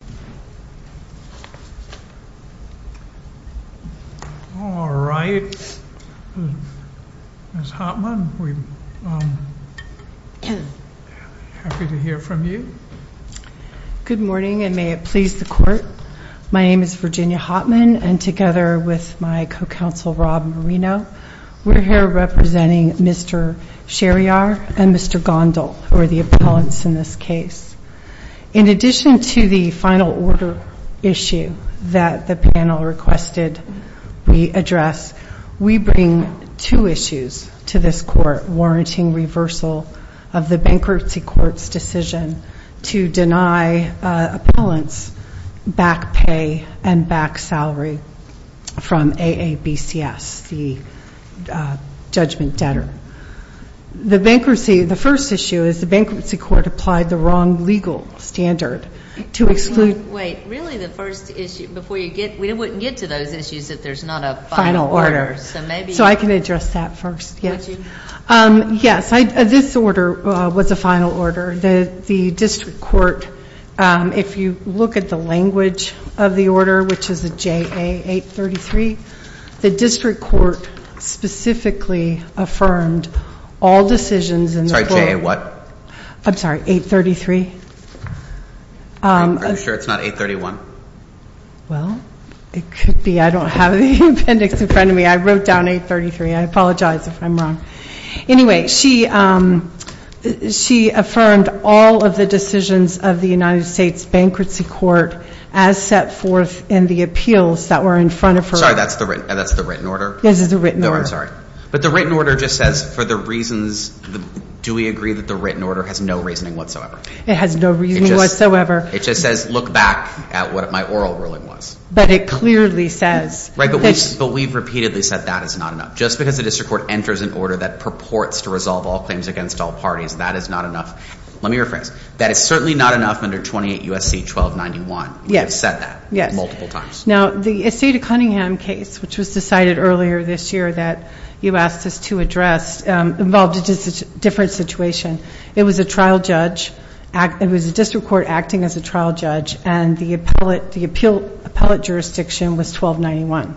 Virginia Hotman My name is Virginia Hotman, and together with my co-counsel Rob Marino, we are here representing Mr. Sherryar and Mr. Gondal, who are the appellants in this case. In addition to the final order issue that the panel requested we address, we bring two issues to this court warranting reversal of the Bankruptcy Court's decision to deny appellants back pay and back salary from AABCS, the judgment debtor. The Bankruptcy, the first issue is the Bankruptcy Court applied the wrong legal standard to exclude Wait, really the first issue, before you get, we wouldn't get to those issues if there's not a final order. So maybe So I can address that first, yes. Yes, this order was a final order. The District Court, if you look at the language of the order, which is a JA 833, the District Court specifically affirmed all decisions in the court Sorry, JA what? I'm sorry, 833. Are you sure it's not 831? Well, it could be. I don't have the appendix in front of me. I wrote down 833. I apologize if I'm wrong. Anyway, she affirmed all of the decisions of the United States Bankruptcy Court as set forth in the appeals that were in front of her. I'm sorry, that's the written order? Yes, it's the written order. I'm sorry. But the written order just says for the reasons, do we agree that the written order has no reasoning whatsoever? It has no reasoning whatsoever. It just says look back at what my oral ruling was. But it clearly says Right, but we've repeatedly said that is not enough. Just because the District Court enters an order that purports to resolve all claims against all parties, that is not enough. Let me rephrase. That is certainly not enough under 28 U.S.C. 1291. Yes. We have said that multiple times. Now, the Estate of Cunningham case, which was decided earlier this year that you asked us to address, involved a different situation. It was a District Court acting as a trial judge, and the appellate jurisdiction was 1291.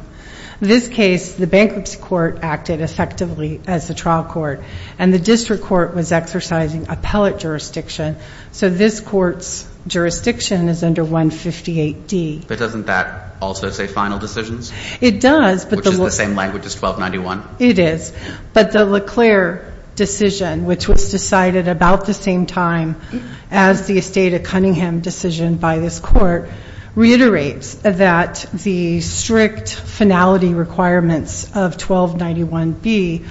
In this case, the Bankruptcy Court acted effectively as the trial court, and the District Court was exercising appellate jurisdiction. So this court's jurisdiction is under 158D. But doesn't that also say final decisions? It does. Which is the same language as 1291. It is. But the Leclerc decision, which was decided about the same time as the Estate of Cunningham decision by this court, reiterates that the strict finality requirements of 1291B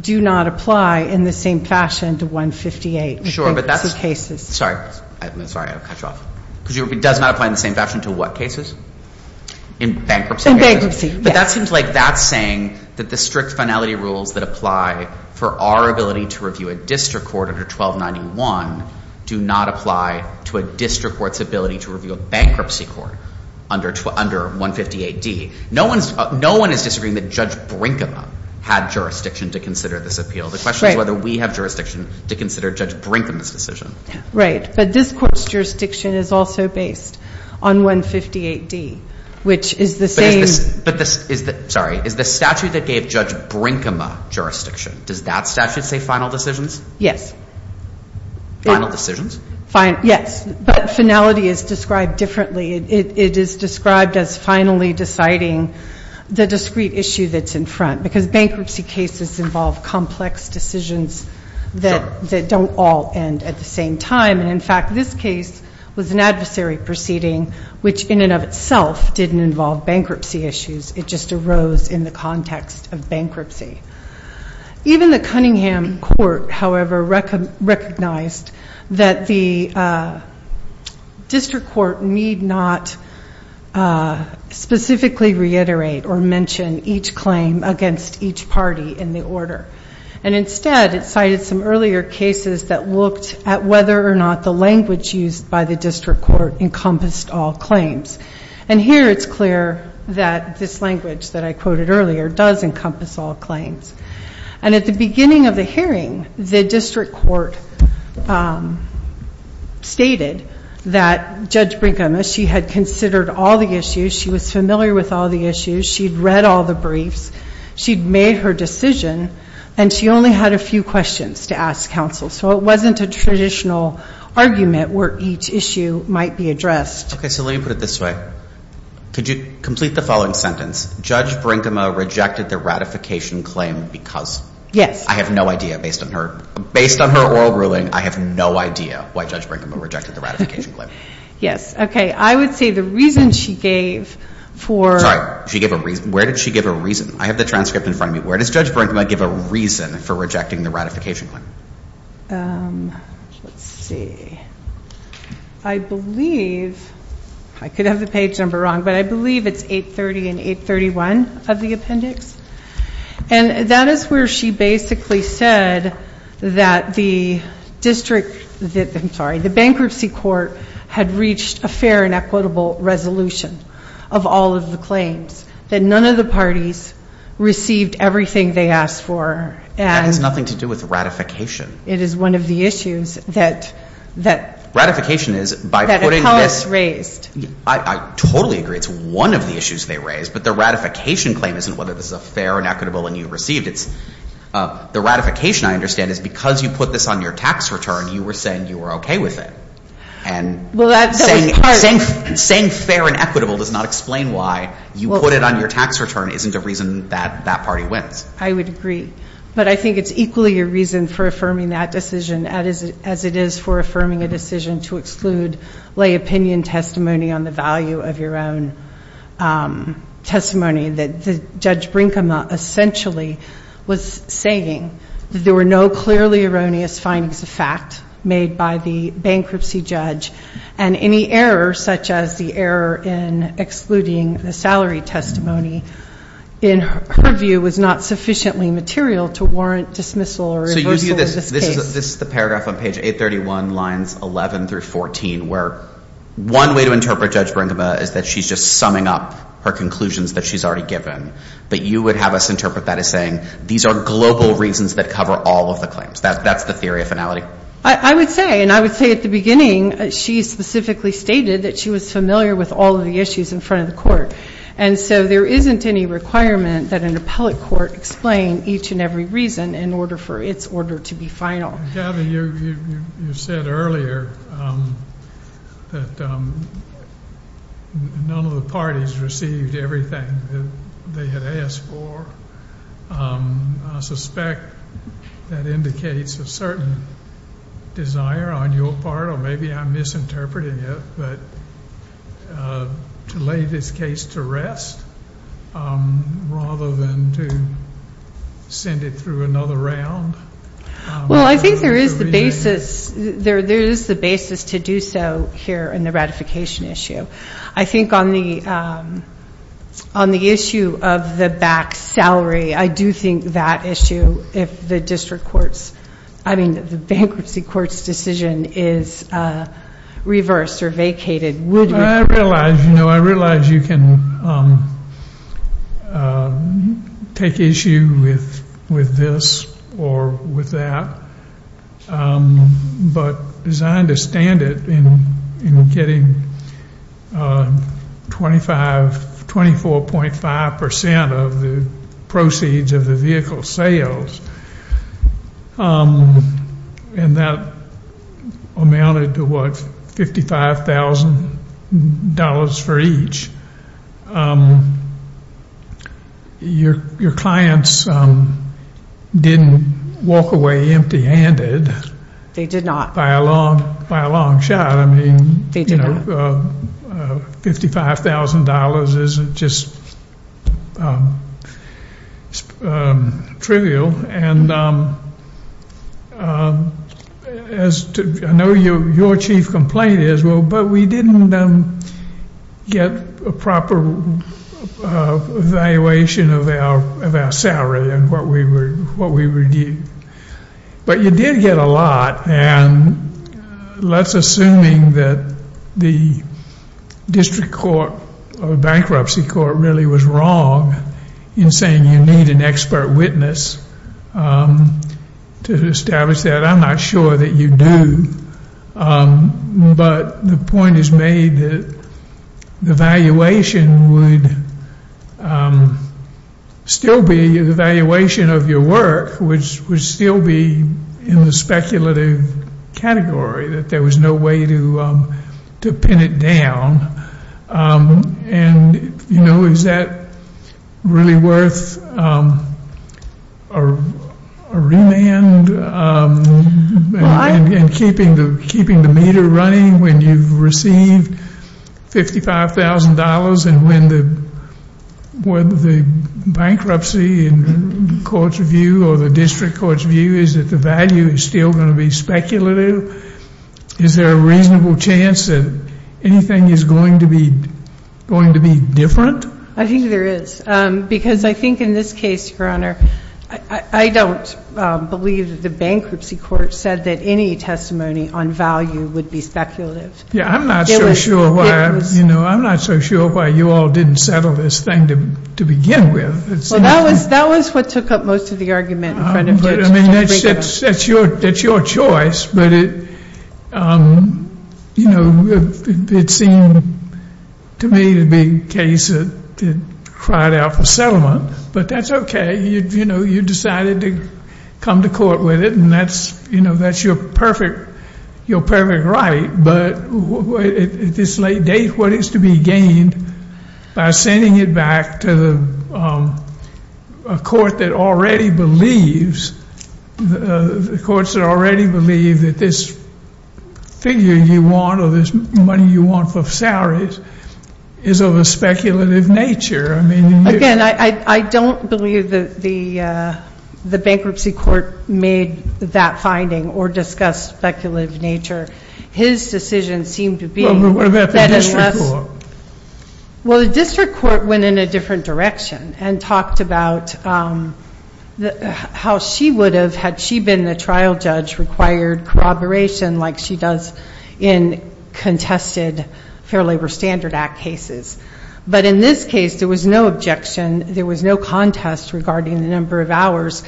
do not apply in the same fashion to 158 Bankruptcy cases. Sorry. Sorry, I'll cut you off. Because it does not apply in the same fashion to what cases? In bankruptcy cases? In bankruptcy, yes. But that seems like that's saying that the strict finality rules that apply for our ability to review a District Court under 1291 do not apply to a District Court's ability to review a Bankruptcy Court under 150AD. No one is disagreeing that Judge Brinkema had jurisdiction to consider this appeal. The question is whether we have jurisdiction to consider Judge Brinkema's decision. But this court's jurisdiction is also based on 158D, which is the same. Sorry. Is the statute that gave Judge Brinkema jurisdiction, does that statute say final decisions? Yes. Final decisions? Yes. But finality is described differently. It is described as finally deciding the discrete issue that's in front. Because bankruptcy cases involve complex decisions that don't all end at the same time. And, in fact, this case was an adversary proceeding, which in and of itself didn't involve bankruptcy issues. It just arose in the context of bankruptcy. Even the Cunningham Court, however, recognized that the District Court need not specifically reiterate or mention each claim against each party in the order. And, instead, it cited some earlier cases that looked at whether or not the language used by the District Court encompassed all claims. And here it's clear that this language that I quoted earlier does encompass all claims. And at the beginning of the hearing, the District Court stated that Judge Brinkema, she had considered all the issues. She was familiar with all the issues. She'd read all the briefs. She'd made her decision. And she only had a few questions to ask counsel. So it wasn't a traditional argument where each issue might be addressed. Okay. So let me put it this way. Could you complete the following sentence? Judge Brinkema rejected the ratification claim because. Yes. I have no idea. Based on her oral ruling, I have no idea why Judge Brinkema rejected the ratification claim. Yes. Okay. I would say the reason she gave for. Sorry. Where did she give a reason? I have the transcript in front of me. Where does Judge Brinkema give a reason for rejecting the ratification claim? Let's see. I believe. I could have the page number wrong. But I believe it's 830 and 831 of the appendix. And that is where she basically said that the district. I'm sorry. The bankruptcy court had reached a fair and equitable resolution of all of the claims. That none of the parties received everything they asked for. That has nothing to do with ratification. It is one of the issues that. Ratification is. That the House raised. I totally agree. It's one of the issues they raised. But the ratification claim isn't whether this is a fair and equitable and you received it. The ratification, I understand, is because you put this on your tax return, you were saying you were okay with it. Well, that was part. Saying fair and equitable does not explain why you put it on your tax return isn't a reason that that party wins. I would agree. But I think it's equally a reason for affirming that decision. As it is for affirming a decision to exclude lay opinion testimony on the value of your own testimony. That Judge Brinkema essentially was saying that there were no clearly erroneous findings of fact made by the bankruptcy judge. And any error such as the error in excluding the salary testimony in her view was not sufficiently material to warrant dismissal or reversal of this case. So you view this. This is the paragraph on page 831 lines 11 through 14 where one way to interpret Judge Brinkema is that she's just summing up her conclusions that she's already given. But you would have us interpret that as saying these are global reasons that cover all of the claims. That's the theory of finality. I would say. And I would say at the beginning she specifically stated that she was familiar with all of the issues in front of the court. And so there isn't any requirement that an appellate court explain each and every reason in order for its order to be final. Gabby, you said earlier that none of the parties received everything that they had asked for. I suspect that indicates a certain desire on your part. Or maybe I'm misinterpreting it. But to lay this case to rest rather than to send it through another round. Well, I think there is the basis to do so here in the ratification issue. I think on the issue of the back salary, I do think that issue, if the bankruptcy court's decision is reversed or vacated, would be. I realize you can take issue with this or with that. But as I understand it, in getting 24.5% of the proceeds of the vehicle sales, and that amounted to, what, $55,000 for each, your clients didn't walk away empty handed. They did not. By a long shot. They did not. $55,000 is just trivial. I know your chief complaint is, well, but we didn't get a proper evaluation of our salary and what we were getting. But you did get a lot. And let's assume that the district court or bankruptcy court really was wrong in saying you need an expert witness to establish that. I'm not sure that you do. But the point is made that the evaluation would still be the evaluation of your work, which would still be in the speculative category, that there was no way to pin it down. And, you know, is that really worth a remand in keeping the meter running when you've received $55,000 and when the bankruptcy court's view or the district court's view is that the value is still going to be speculative? Is there a reasonable chance that anything is going to be different? I think there is. Because I think in this case, Your Honor, I don't believe the bankruptcy court said that any testimony on value would be speculative. Yeah, I'm not so sure why, you know, I'm not so sure why you all didn't settle this thing to begin with. Well, that was what took up most of the argument in front of you. I mean, that's your choice. But, you know, it seemed to me to be a case that cried out for settlement. But that's okay. You know, you decided to come to court with it, and that's, you know, that's your perfect right. But at this late date, what is to be gained by sending it back to a court that already believes, the courts that already believe that this figure you want or this money you want for salaries is of a speculative nature? Again, I don't believe that the bankruptcy court made that finding or discussed speculative nature. His decision seemed to be that unless. Well, the district court went in a different direction and talked about how she would have, had she been the trial judge, required corroboration like she does in contested Fair Labor Standard Act cases. But in this case, there was no objection. There was no contest regarding the number of hours.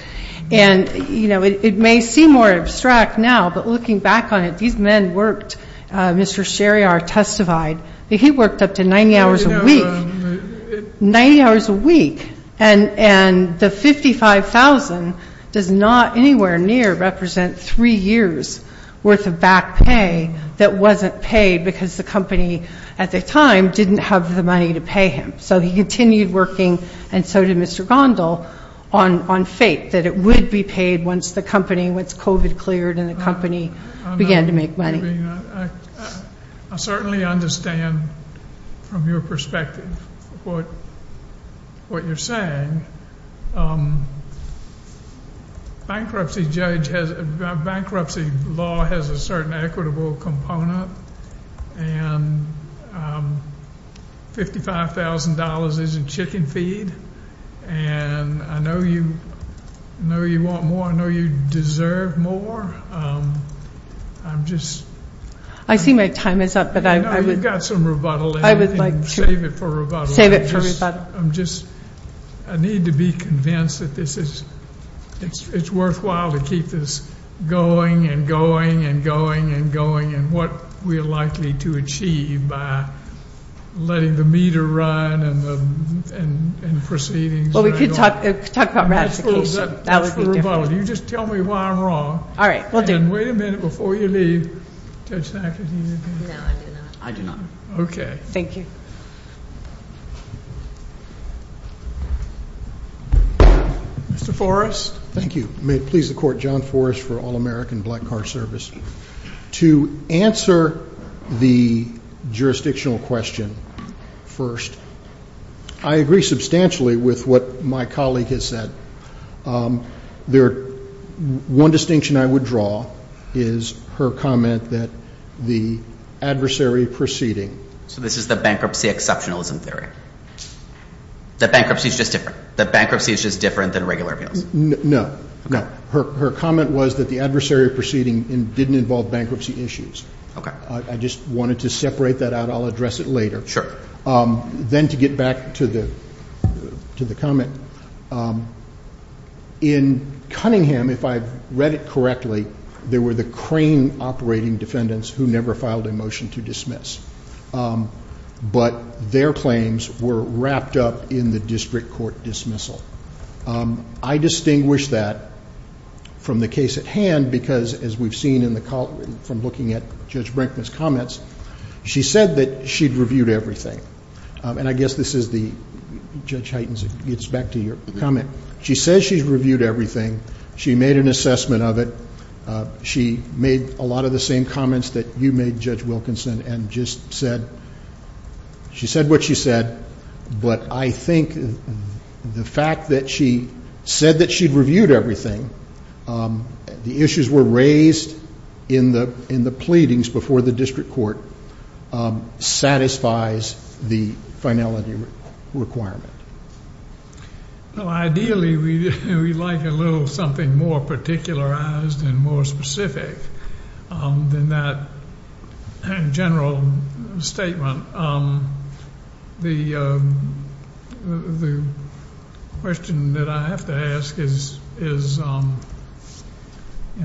And, you know, it may seem more abstract now, but looking back on it, these men worked. Mr. Sherryar testified that he worked up to 90 hours a week, 90 hours a week. And the $55,000 does not anywhere near represent three years worth of back pay that wasn't paid because the company at the time didn't have the money to pay him. So he continued working, and so did Mr. Gondal, on fate, that it would be paid once the company, once COVID cleared and the company began to make money. I certainly understand from your perspective what you're saying. Bankruptcy judge has, bankruptcy law has a certain equitable component, and $55,000 isn't chicken feed. And I know you want more. I know you deserve more. I'm just. I see my time is up, but I would. You've got some rebuttal there. I would like to. Save it for rebuttal. Save it for rebuttal. I'm just, I need to be convinced that this is, it's worthwhile to keep this going and going and going and going and what we're likely to achieve by letting the meter run and proceedings. Well, we could talk about ratification. That would be different. That's for rebuttal. You just tell me why I'm wrong. All right. We'll do it. And wait a minute before you leave. Judge Sackett, do you have anything? No, I do not. I do not. Okay. Thank you. Mr. Forrest. Thank you. May it please the Court, John Forrest for All-American Black Car Service. To answer the jurisdictional question first, I agree substantially with what my colleague has said. There, one distinction I would draw is her comment that the adversary proceeding. So this is the bankruptcy exceptionalism theory. That bankruptcy is just different. That bankruptcy is just different than regular appeals. No. No. Her comment was that the adversary proceeding didn't involve bankruptcy issues. Okay. I just wanted to separate that out. I'll address it later. Sure. Then to get back to the comment, in Cunningham, if I've read it correctly, there were the crane operating defendants who never filed a motion to dismiss. But their claims were wrapped up in the district court dismissal. I distinguish that from the case at hand because, as we've seen from looking at Judge Brinkman's comments, she said that she'd reviewed everything. And I guess this is the Judge Heitens gets back to your comment. She says she's reviewed everything. She made an assessment of it. She made a lot of the same comments that you made, Judge Wilkinson, and just said she said what she said. But I think the fact that she said that she'd reviewed everything, the issues were raised in the pleadings before the district court, satisfies the finality requirement. Ideally, we'd like a little something more particularized and more specific than that general statement. The question that I have to ask is in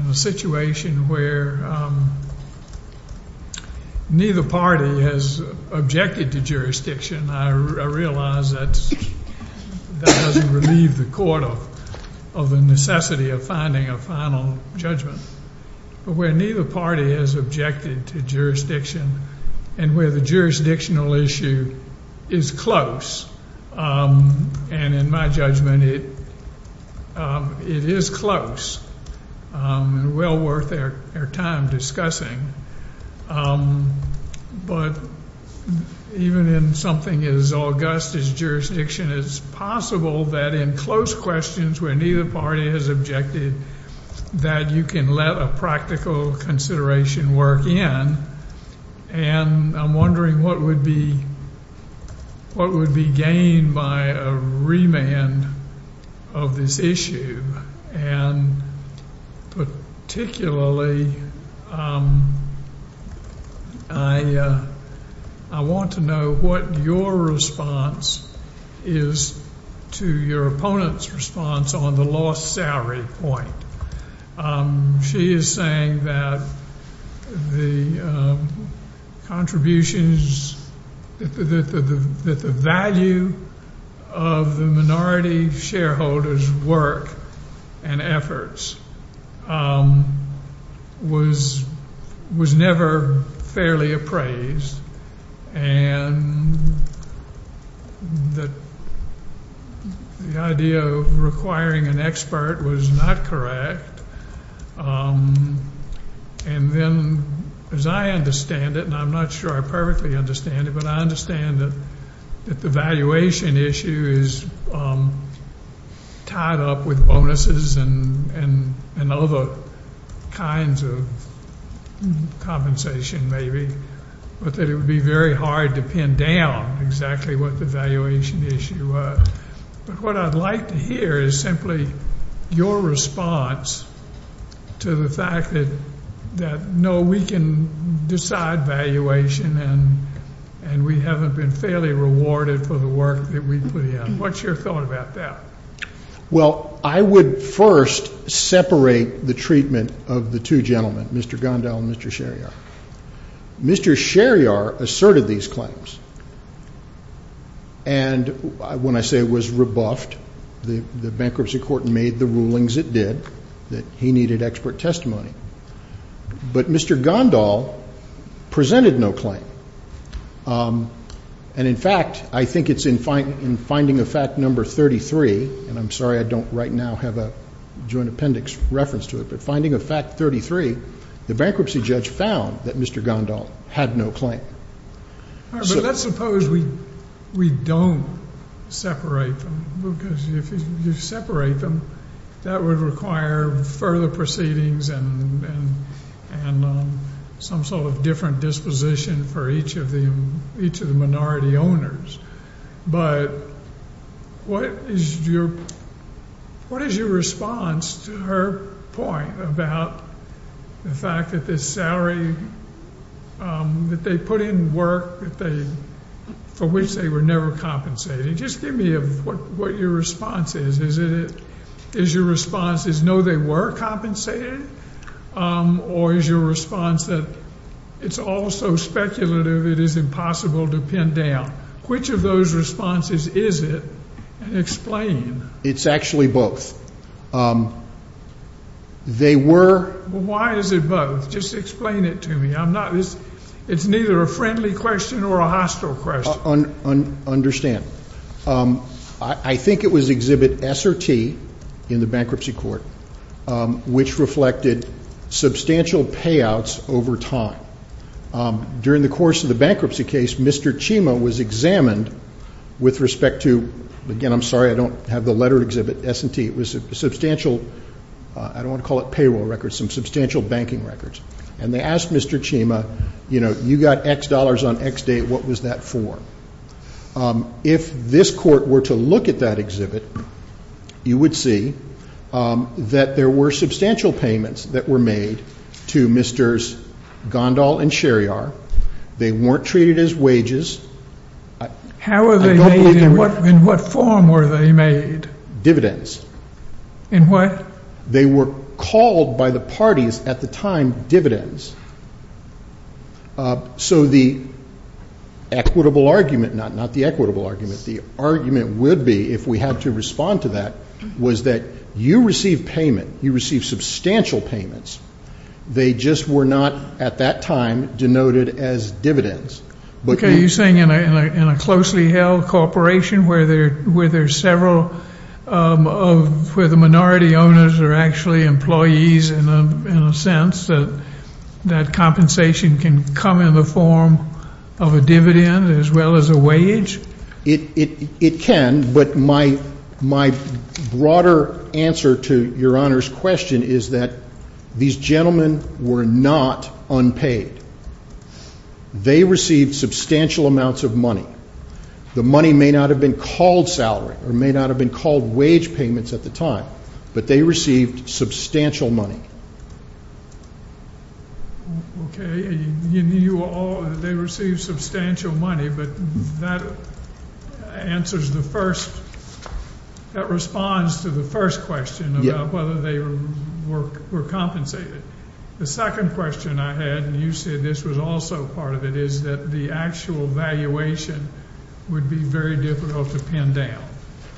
a situation where neither party has objected to jurisdiction, I realize that doesn't relieve the court of the necessity of finding a final judgment. But where neither party has objected to jurisdiction and where the jurisdictional issue is close, and in my judgment it is close and well worth our time discussing, but even in something as august as jurisdiction, it's possible that in close questions where neither party has objected that you can let a practical consideration work in. And I'm wondering what would be gained by a remand of this issue. And particularly, I want to know what your response is to your opponent's response on the lost salary point. She is saying that the contributions, that the value of the minority shareholder's work and efforts was never fairly appraised and that the idea of requiring an expert was not correct. And then as I understand it, and I'm not sure I perfectly understand it, but I understand that the valuation issue is tied up with bonuses and other kinds of compensation maybe, but that it would be very hard to pin down exactly what the valuation issue was. But what I'd like to hear is simply your response to the fact that, no, we can decide valuation and we haven't been fairly rewarded for the work that we put in. What's your thought about that? Well, I would first separate the treatment of the two gentlemen, Mr. Gondal and Mr. Sherryar. Mr. Sherryar asserted these claims and when I say was rebuffed, the bankruptcy court made the rulings it did, that he needed expert testimony. But Mr. Gondal presented no claim. And, in fact, I think it's in finding of fact number 33, and I'm sorry I don't right now have a joint appendix reference to it, but finding of fact 33, the bankruptcy judge found that Mr. Gondal had no claim. All right, but let's suppose we don't separate them, because if you separate them, that would require further proceedings and some sort of different disposition for each of the minority owners. But what is your response to her point about the fact that this salary, that they put in work for which they were never compensated? Just give me what your response is. Is your response is no, they were compensated? Or is your response that it's all so speculative it is impossible to pin down? Which of those responses is it? Explain. It's actually both. They were. Why is it both? Just explain it to me. It's neither a friendly question or a hostile question. I understand. I think it was Exhibit S or T in the bankruptcy court, which reflected substantial payouts over time. During the course of the bankruptcy case, Mr. Chima was examined with respect to, again, I'm sorry, I don't have the letter Exhibit S and T. It was substantial, I don't want to call it payroll records, some substantial banking records. And they asked Mr. Chima, you know, you got X dollars on X date, what was that for? If this court were to look at that exhibit, you would see that there were substantial payments that were made to Mr. Gondal and Sherryar. They weren't treated as wages. How were they made? In what form were they made? Dividends. In what? They were called by the parties at the time dividends. So the equitable argument, not the equitable argument, the argument would be, if we had to respond to that, was that you receive payment, you receive substantial payments, they just were not at that time denoted as dividends. Okay. You're saying in a closely held corporation where there's several, where the minority owners are actually employees in a sense, that that compensation can come in the form of a dividend as well as a wage? It can. But my broader answer to Your Honor's question is that these gentlemen were not unpaid. They received substantial amounts of money. The money may not have been called salary or may not have been called wage payments at the time, but they received substantial money. Okay. They received substantial money, but that answers the first, that responds to the first question about whether they were compensated. The second question I had, and you said this was also part of it, is that the actual valuation would be very difficult to pin down.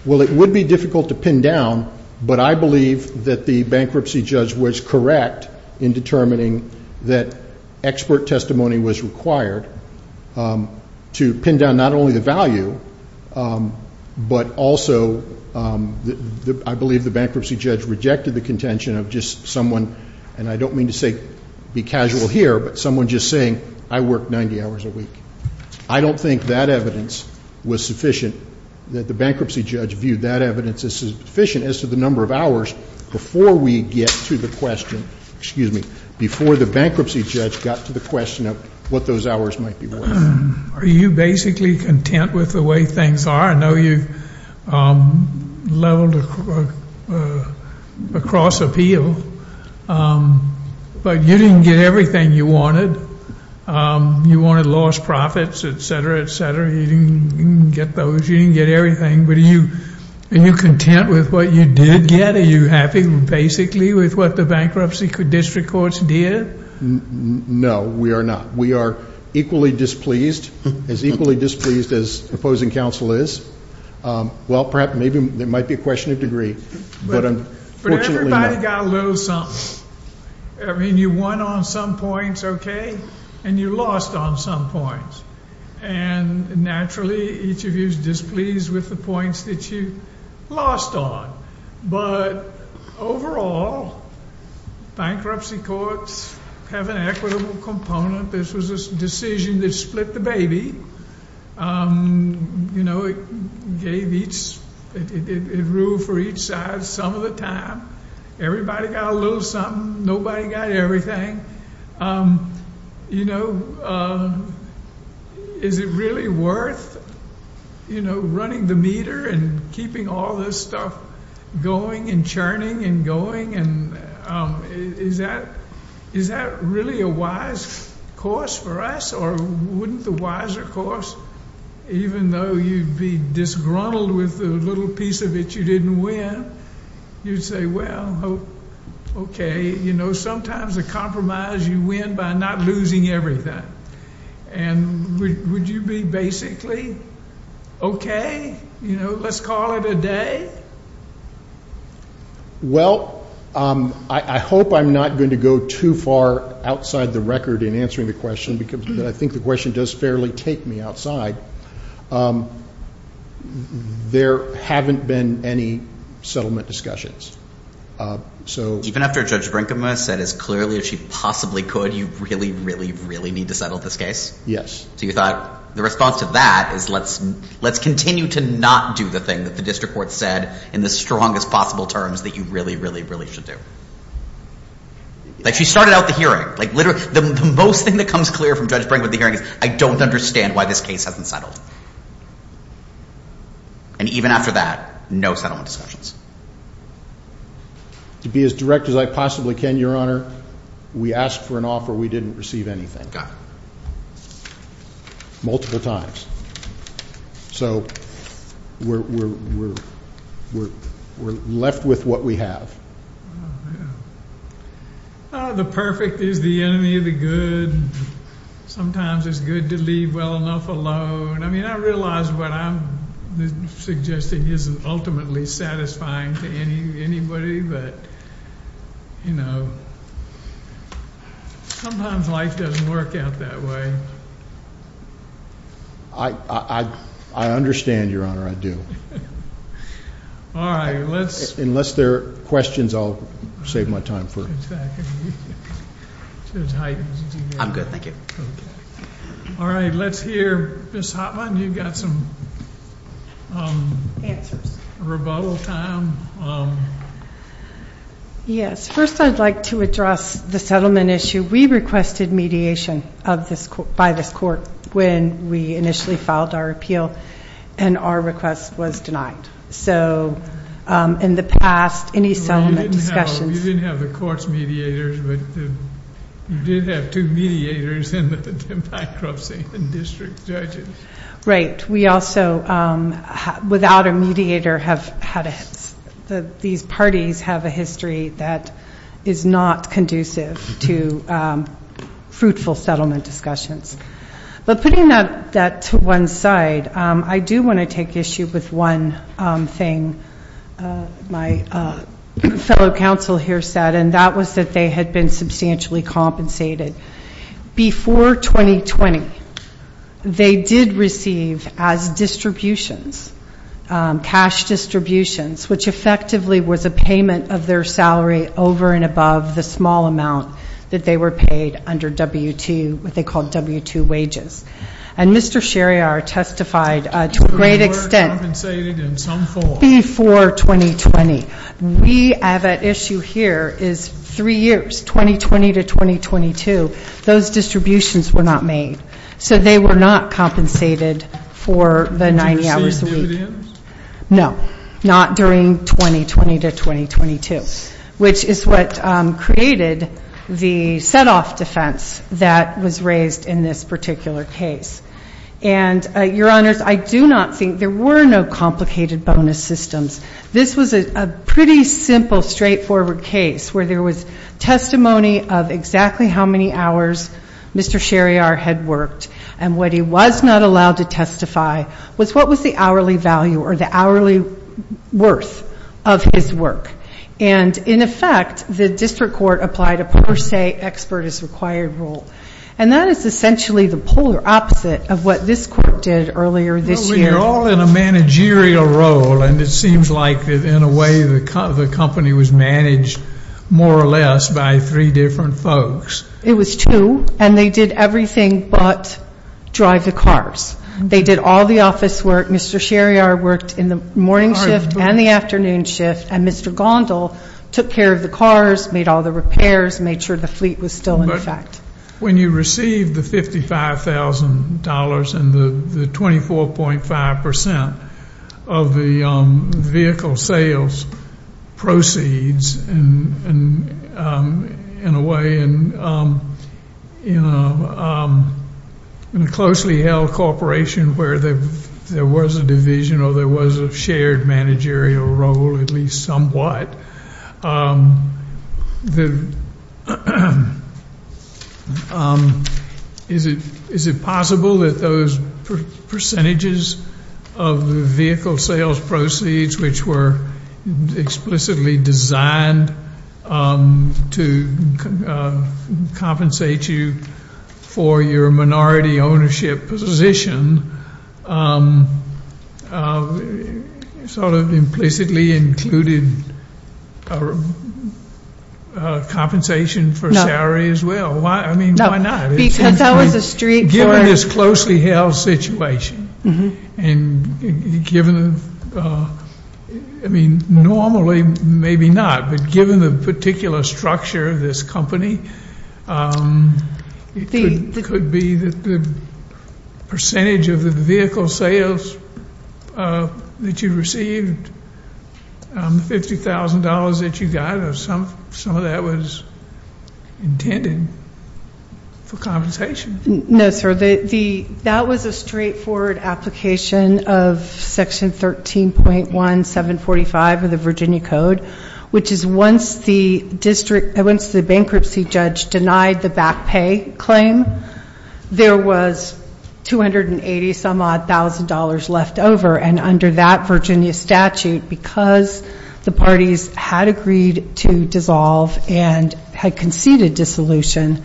Well, it would be difficult to pin down, but I believe that the bankruptcy judge was correct in determining that expert testimony was required to pin down not only the value, but also I believe the bankruptcy judge rejected the contention of just someone, and I don't mean to say be casual here, but someone just saying I work 90 hours a week. I don't think that evidence was sufficient, that the bankruptcy judge viewed that evidence as sufficient as to the number of hours before we get to the question, excuse me, before the bankruptcy judge got to the question of what those hours might be worth. Are you basically content with the way things are? I know you leveled across appeal, but you didn't get everything you wanted. You wanted lost profits, et cetera, et cetera. You didn't get those. You didn't get everything, but are you content with what you did get? Are you happy basically with what the bankruptcy district courts did? No, we are not. We are equally displeased, as equally displeased as opposing counsel is. Well, perhaps maybe it might be a question of degree, but unfortunately not. But everybody got a little something. I mean you won on some points, okay, and you lost on some points, and naturally each of you is displeased with the points that you lost on. But overall, bankruptcy courts have an equitable component. This was a decision that split the baby. You know, it ruled for each side some of the time. Everybody got a little something. Nobody got everything. You know, is it really worth, you know, running the meter and keeping all this stuff going and churning and going? Is that really a wise course for us, or wouldn't the wiser course, even though you'd be disgruntled with the little piece of it you didn't win, you'd say, well, okay. You know, sometimes a compromise you win by not losing everything. And would you be basically okay, you know, let's call it a day? Well, I hope I'm not going to go too far outside the record in answering the question because I think the question does fairly take me outside. There haven't been any settlement discussions. So even after Judge Brinkman said as clearly as she possibly could, you really, really, really need to settle this case? Yes. So you thought the response to that is let's continue to not do the thing that the district court said in the strongest possible terms that you really, really, really should do. Like she started out the hearing. Like literally the most thing that comes clear from Judge Brinkman at the hearing is I don't understand why this case hasn't settled. And even after that, no settlement discussions. To be as direct as I possibly can, Your Honor, we asked for an offer we didn't receive anything. Multiple times. So we're left with what we have. Oh, the perfect is the enemy of the good. Sometimes it's good to leave well enough alone. I mean, I realize what I'm suggesting isn't ultimately satisfying to anybody, but, you know, sometimes life doesn't work out that way. I understand, Your Honor. I do. All right. Unless there are questions, I'll save my time. Exactly. Judge Hyten, did you have a question? I'm good. Thank you. All right. Let's hear Ms. Hoffman. You've got some rebuttal time. Yes. First I'd like to address the settlement issue. We requested mediation by this court when we initially filed our appeal, and our request was denied. So in the past, any settlement discussions. You didn't have the court's mediators, but you did have two mediators in the bankruptcy and district judges. Right. We also, without a mediator, have had a history. These parties have a history that is not conducive to fruitful settlement discussions. But putting that to one side, I do want to take issue with one thing my fellow counsel here said, and that was that they had been substantially compensated. Before 2020, they did receive as distributions, cash distributions, which effectively was a payment of their salary over and above the small amount that they were paid under W-2, what they called W-2 wages. And Mr. Cheriar testified to a great extent. We were compensated in some form. Before 2020. We have at issue here is three years, 2020 to 2022, those distributions were not made. So they were not compensated for the 90 hours a week. Did you receive dividends? No, not during 2020 to 2022, which is what created the set-off defense that was raised in this particular case. And, Your Honors, I do not think there were no complicated bonus systems. This was a pretty simple, straightforward case where there was testimony of exactly how many hours Mr. Cheriar had worked. And what he was not allowed to testify was what was the hourly value or the hourly worth of his work. And, in effect, the district court applied a per se expert is required rule. And that is essentially the polar opposite of what this court did earlier this year. We are all in a managerial role. And it seems like in a way the company was managed more or less by three different folks. It was two. And they did everything but drive the cars. They did all the office work. Mr. Cheriar worked in the morning shift and the afternoon shift. And Mr. Gondal took care of the cars, made all the repairs, made sure the fleet was still in effect. When you receive the $55,000 and the 24.5% of the vehicle sales proceeds in a way in a closely held corporation where there was a division or there was a shared managerial role, at least somewhat, is it possible that those percentages of the vehicle sales proceeds which were explicitly designed to compensate you for your minority ownership position sort of implicitly included compensation for salary as well? I mean, why not? Because that was a street for Given this closely held situation and given, I mean, normally maybe not, but given the particular structure of this company, it could be that the percentage of the vehicle sales that you received, the $50,000 that you got or some of that was intended for compensation. No, sir. That was a straightforward application of Section 13.1745 of the Virginia Code, which is once the bankruptcy judge denied the back pay claim, there was $280 some odd thousand dollars left over. And under that Virginia statute, because the parties had agreed to dissolve and had conceded dissolution,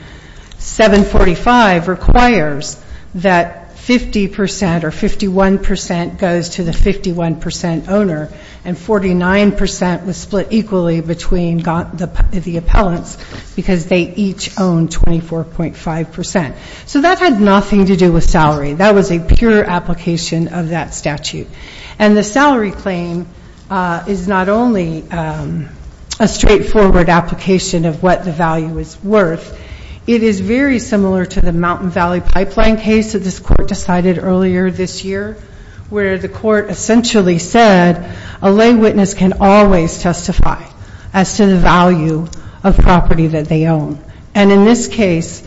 745 requires that 50% or 51% goes to the 51% owner and 49% was split equally between the appellants because they each own 24.5%. So that had nothing to do with salary. That was a pure application of that statute. And the salary claim is not only a straightforward application of what the value is worth. It is very similar to the Mountain Valley Pipeline case that this court decided earlier this year, where the court essentially said a lay witness can always testify as to the value of property that they own. And in this case,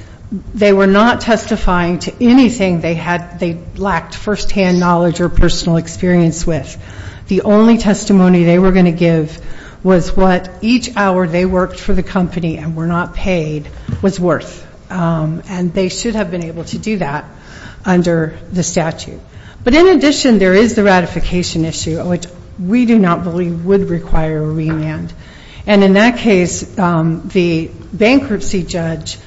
they were not testifying to anything they lacked firsthand knowledge or personal experience with. The only testimony they were going to give was what each hour they worked for the company and were not paid was worth, and they should have been able to do that under the statute. But in addition, there is the ratification issue, which we do not believe would require a remand. And in that case, the bankruptcy judge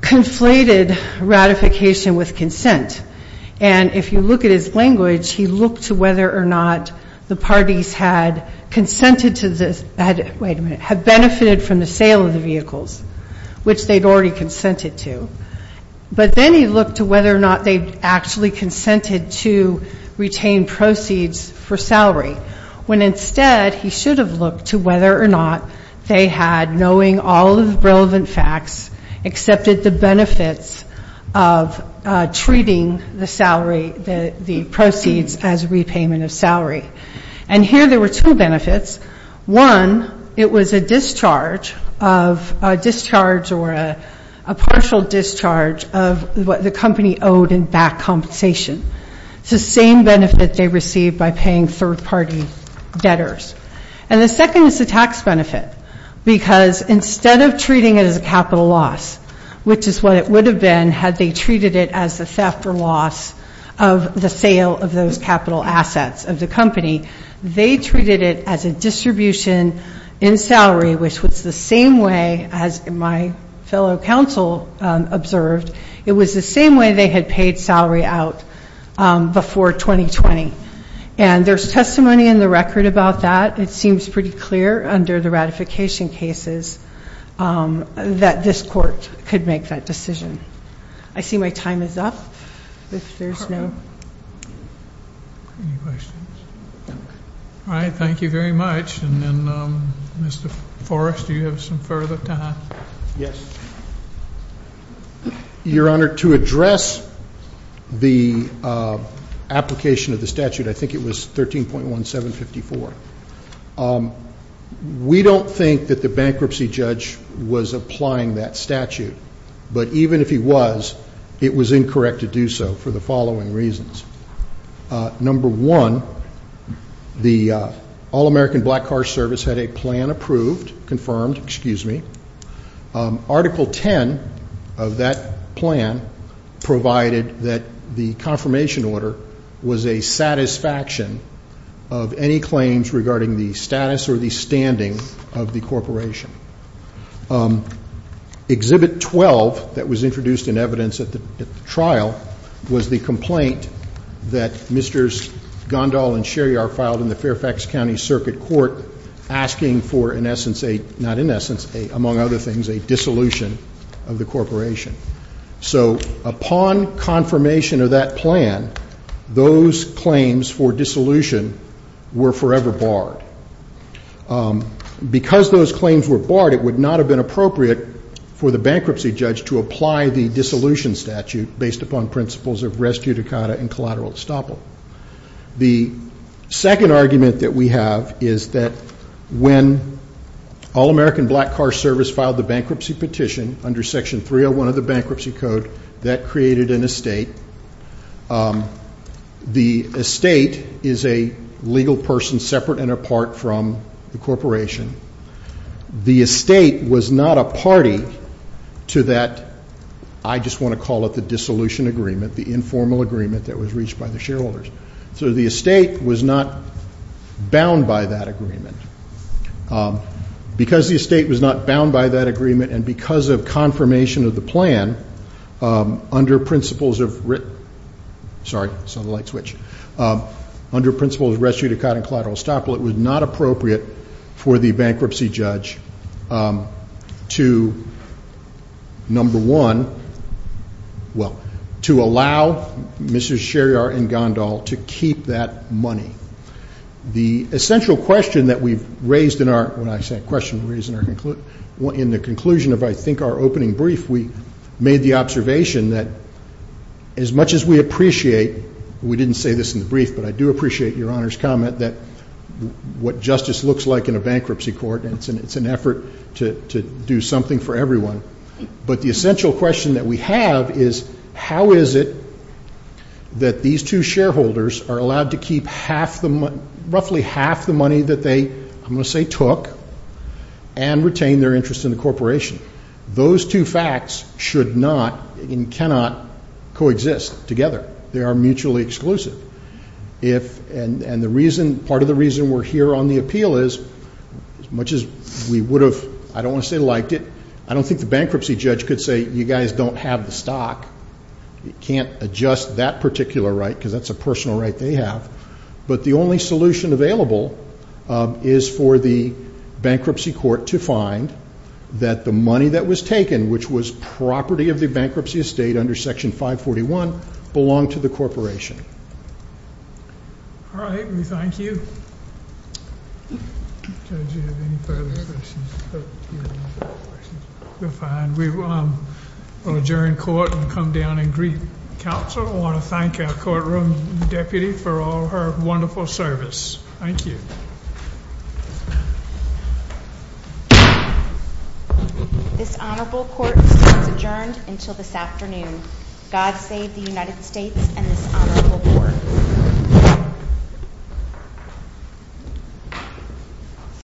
conflated ratification with consent. And if you look at his language, he looked to whether or not the parties had consented to this, had benefited from the sale of the vehicles, which they had already consented to. But then he looked to whether or not they actually consented to retain proceeds for salary, when instead he should have looked to whether or not they had, knowing all of the relevant facts, accepted the benefits of treating the salary, the proceeds as repayment of salary. And here there were two benefits. One, it was a discharge of a discharge or a partial discharge of what the company owed in back compensation. It's the same benefit they received by paying third-party debtors. And the second is the tax benefit, because instead of treating it as a capital loss, which is what it would have been had they treated it as the theft or loss of the sale of those capital assets of the company, they treated it as a distribution in salary, which was the same way, as my fellow counsel observed, it was the same way they had paid salary out before 2020. And there's testimony in the record about that. It seems pretty clear under the ratification cases that this court could make that decision. I see my time is up. All right, thank you very much. And then, Mr. Forrest, do you have some further time? Yes. Your Honor, to address the application of the statute, I think it was 13.1754. We don't think that the bankruptcy judge was applying that statute. But even if he was, it was incorrect to do so for the following reasons. Number one, the All-American Black Car Service had a plan approved, confirmed, excuse me. Article 10 of that plan provided that the confirmation order was a satisfaction of any claims regarding the status or the standing of the corporation. Exhibit 12 that was introduced in evidence at the trial was the complaint that Mr. Gondal and Sherry are filed in the Fairfax County Circuit Court asking for, in essence, not in essence, among other things, a dissolution of the corporation. So upon confirmation of that plan, those claims for dissolution were forever barred. Because those claims were barred, it would not have been appropriate for the bankruptcy judge to apply the dissolution statute based upon principles of res judicata and collateral estoppel. The second argument that we have is that when All-American Black Car Service filed the bankruptcy petition under Section 301 of the Bankruptcy Code, that created an estate. The estate is a legal person separate and apart from the corporation. The estate was not a party to that, I just want to call it the dissolution agreement, the informal agreement that was reached by the shareholders. So the estate was not bound by that agreement. Because the estate was not bound by that agreement and because of confirmation of the plan, under principles of res judicata and collateral estoppel, it was not appropriate for the bankruptcy judge to, number one, well, to allow Mrs. Sherry and Gondal to keep that money. The essential question that we've raised in our, when I say question, we're raising our conclusion, in the conclusion of I think our opening brief, we made the observation that as much as we appreciate, we didn't say this in the brief, but I do appreciate Your Honor's comment that what justice looks like in a bankruptcy court, and it's an effort to do something for everyone, but the essential question that we have is how is it that these two shareholders are allowed to keep roughly half the money that they, I'm going to say took, and retain their interest in the corporation. Those two facts should not and cannot coexist together. They are mutually exclusive. And part of the reason we're here on the appeal is as much as we would have, I don't want to say liked it, I don't think the bankruptcy judge could say you guys don't have the stock, you can't adjust that particular right because that's a personal right they have, but the only solution available is for the bankruptcy court to find that the money that was taken, which was property of the bankruptcy estate under Section 541, belonged to the corporation. All right, we thank you. Judge, do you have any further questions? We're fine. We will adjourn court and come down and greet counsel. I want to thank our courtroom deputy for all her wonderful service. Thank you. This honorable court adjourned until this afternoon. God save the United States and this honorable court.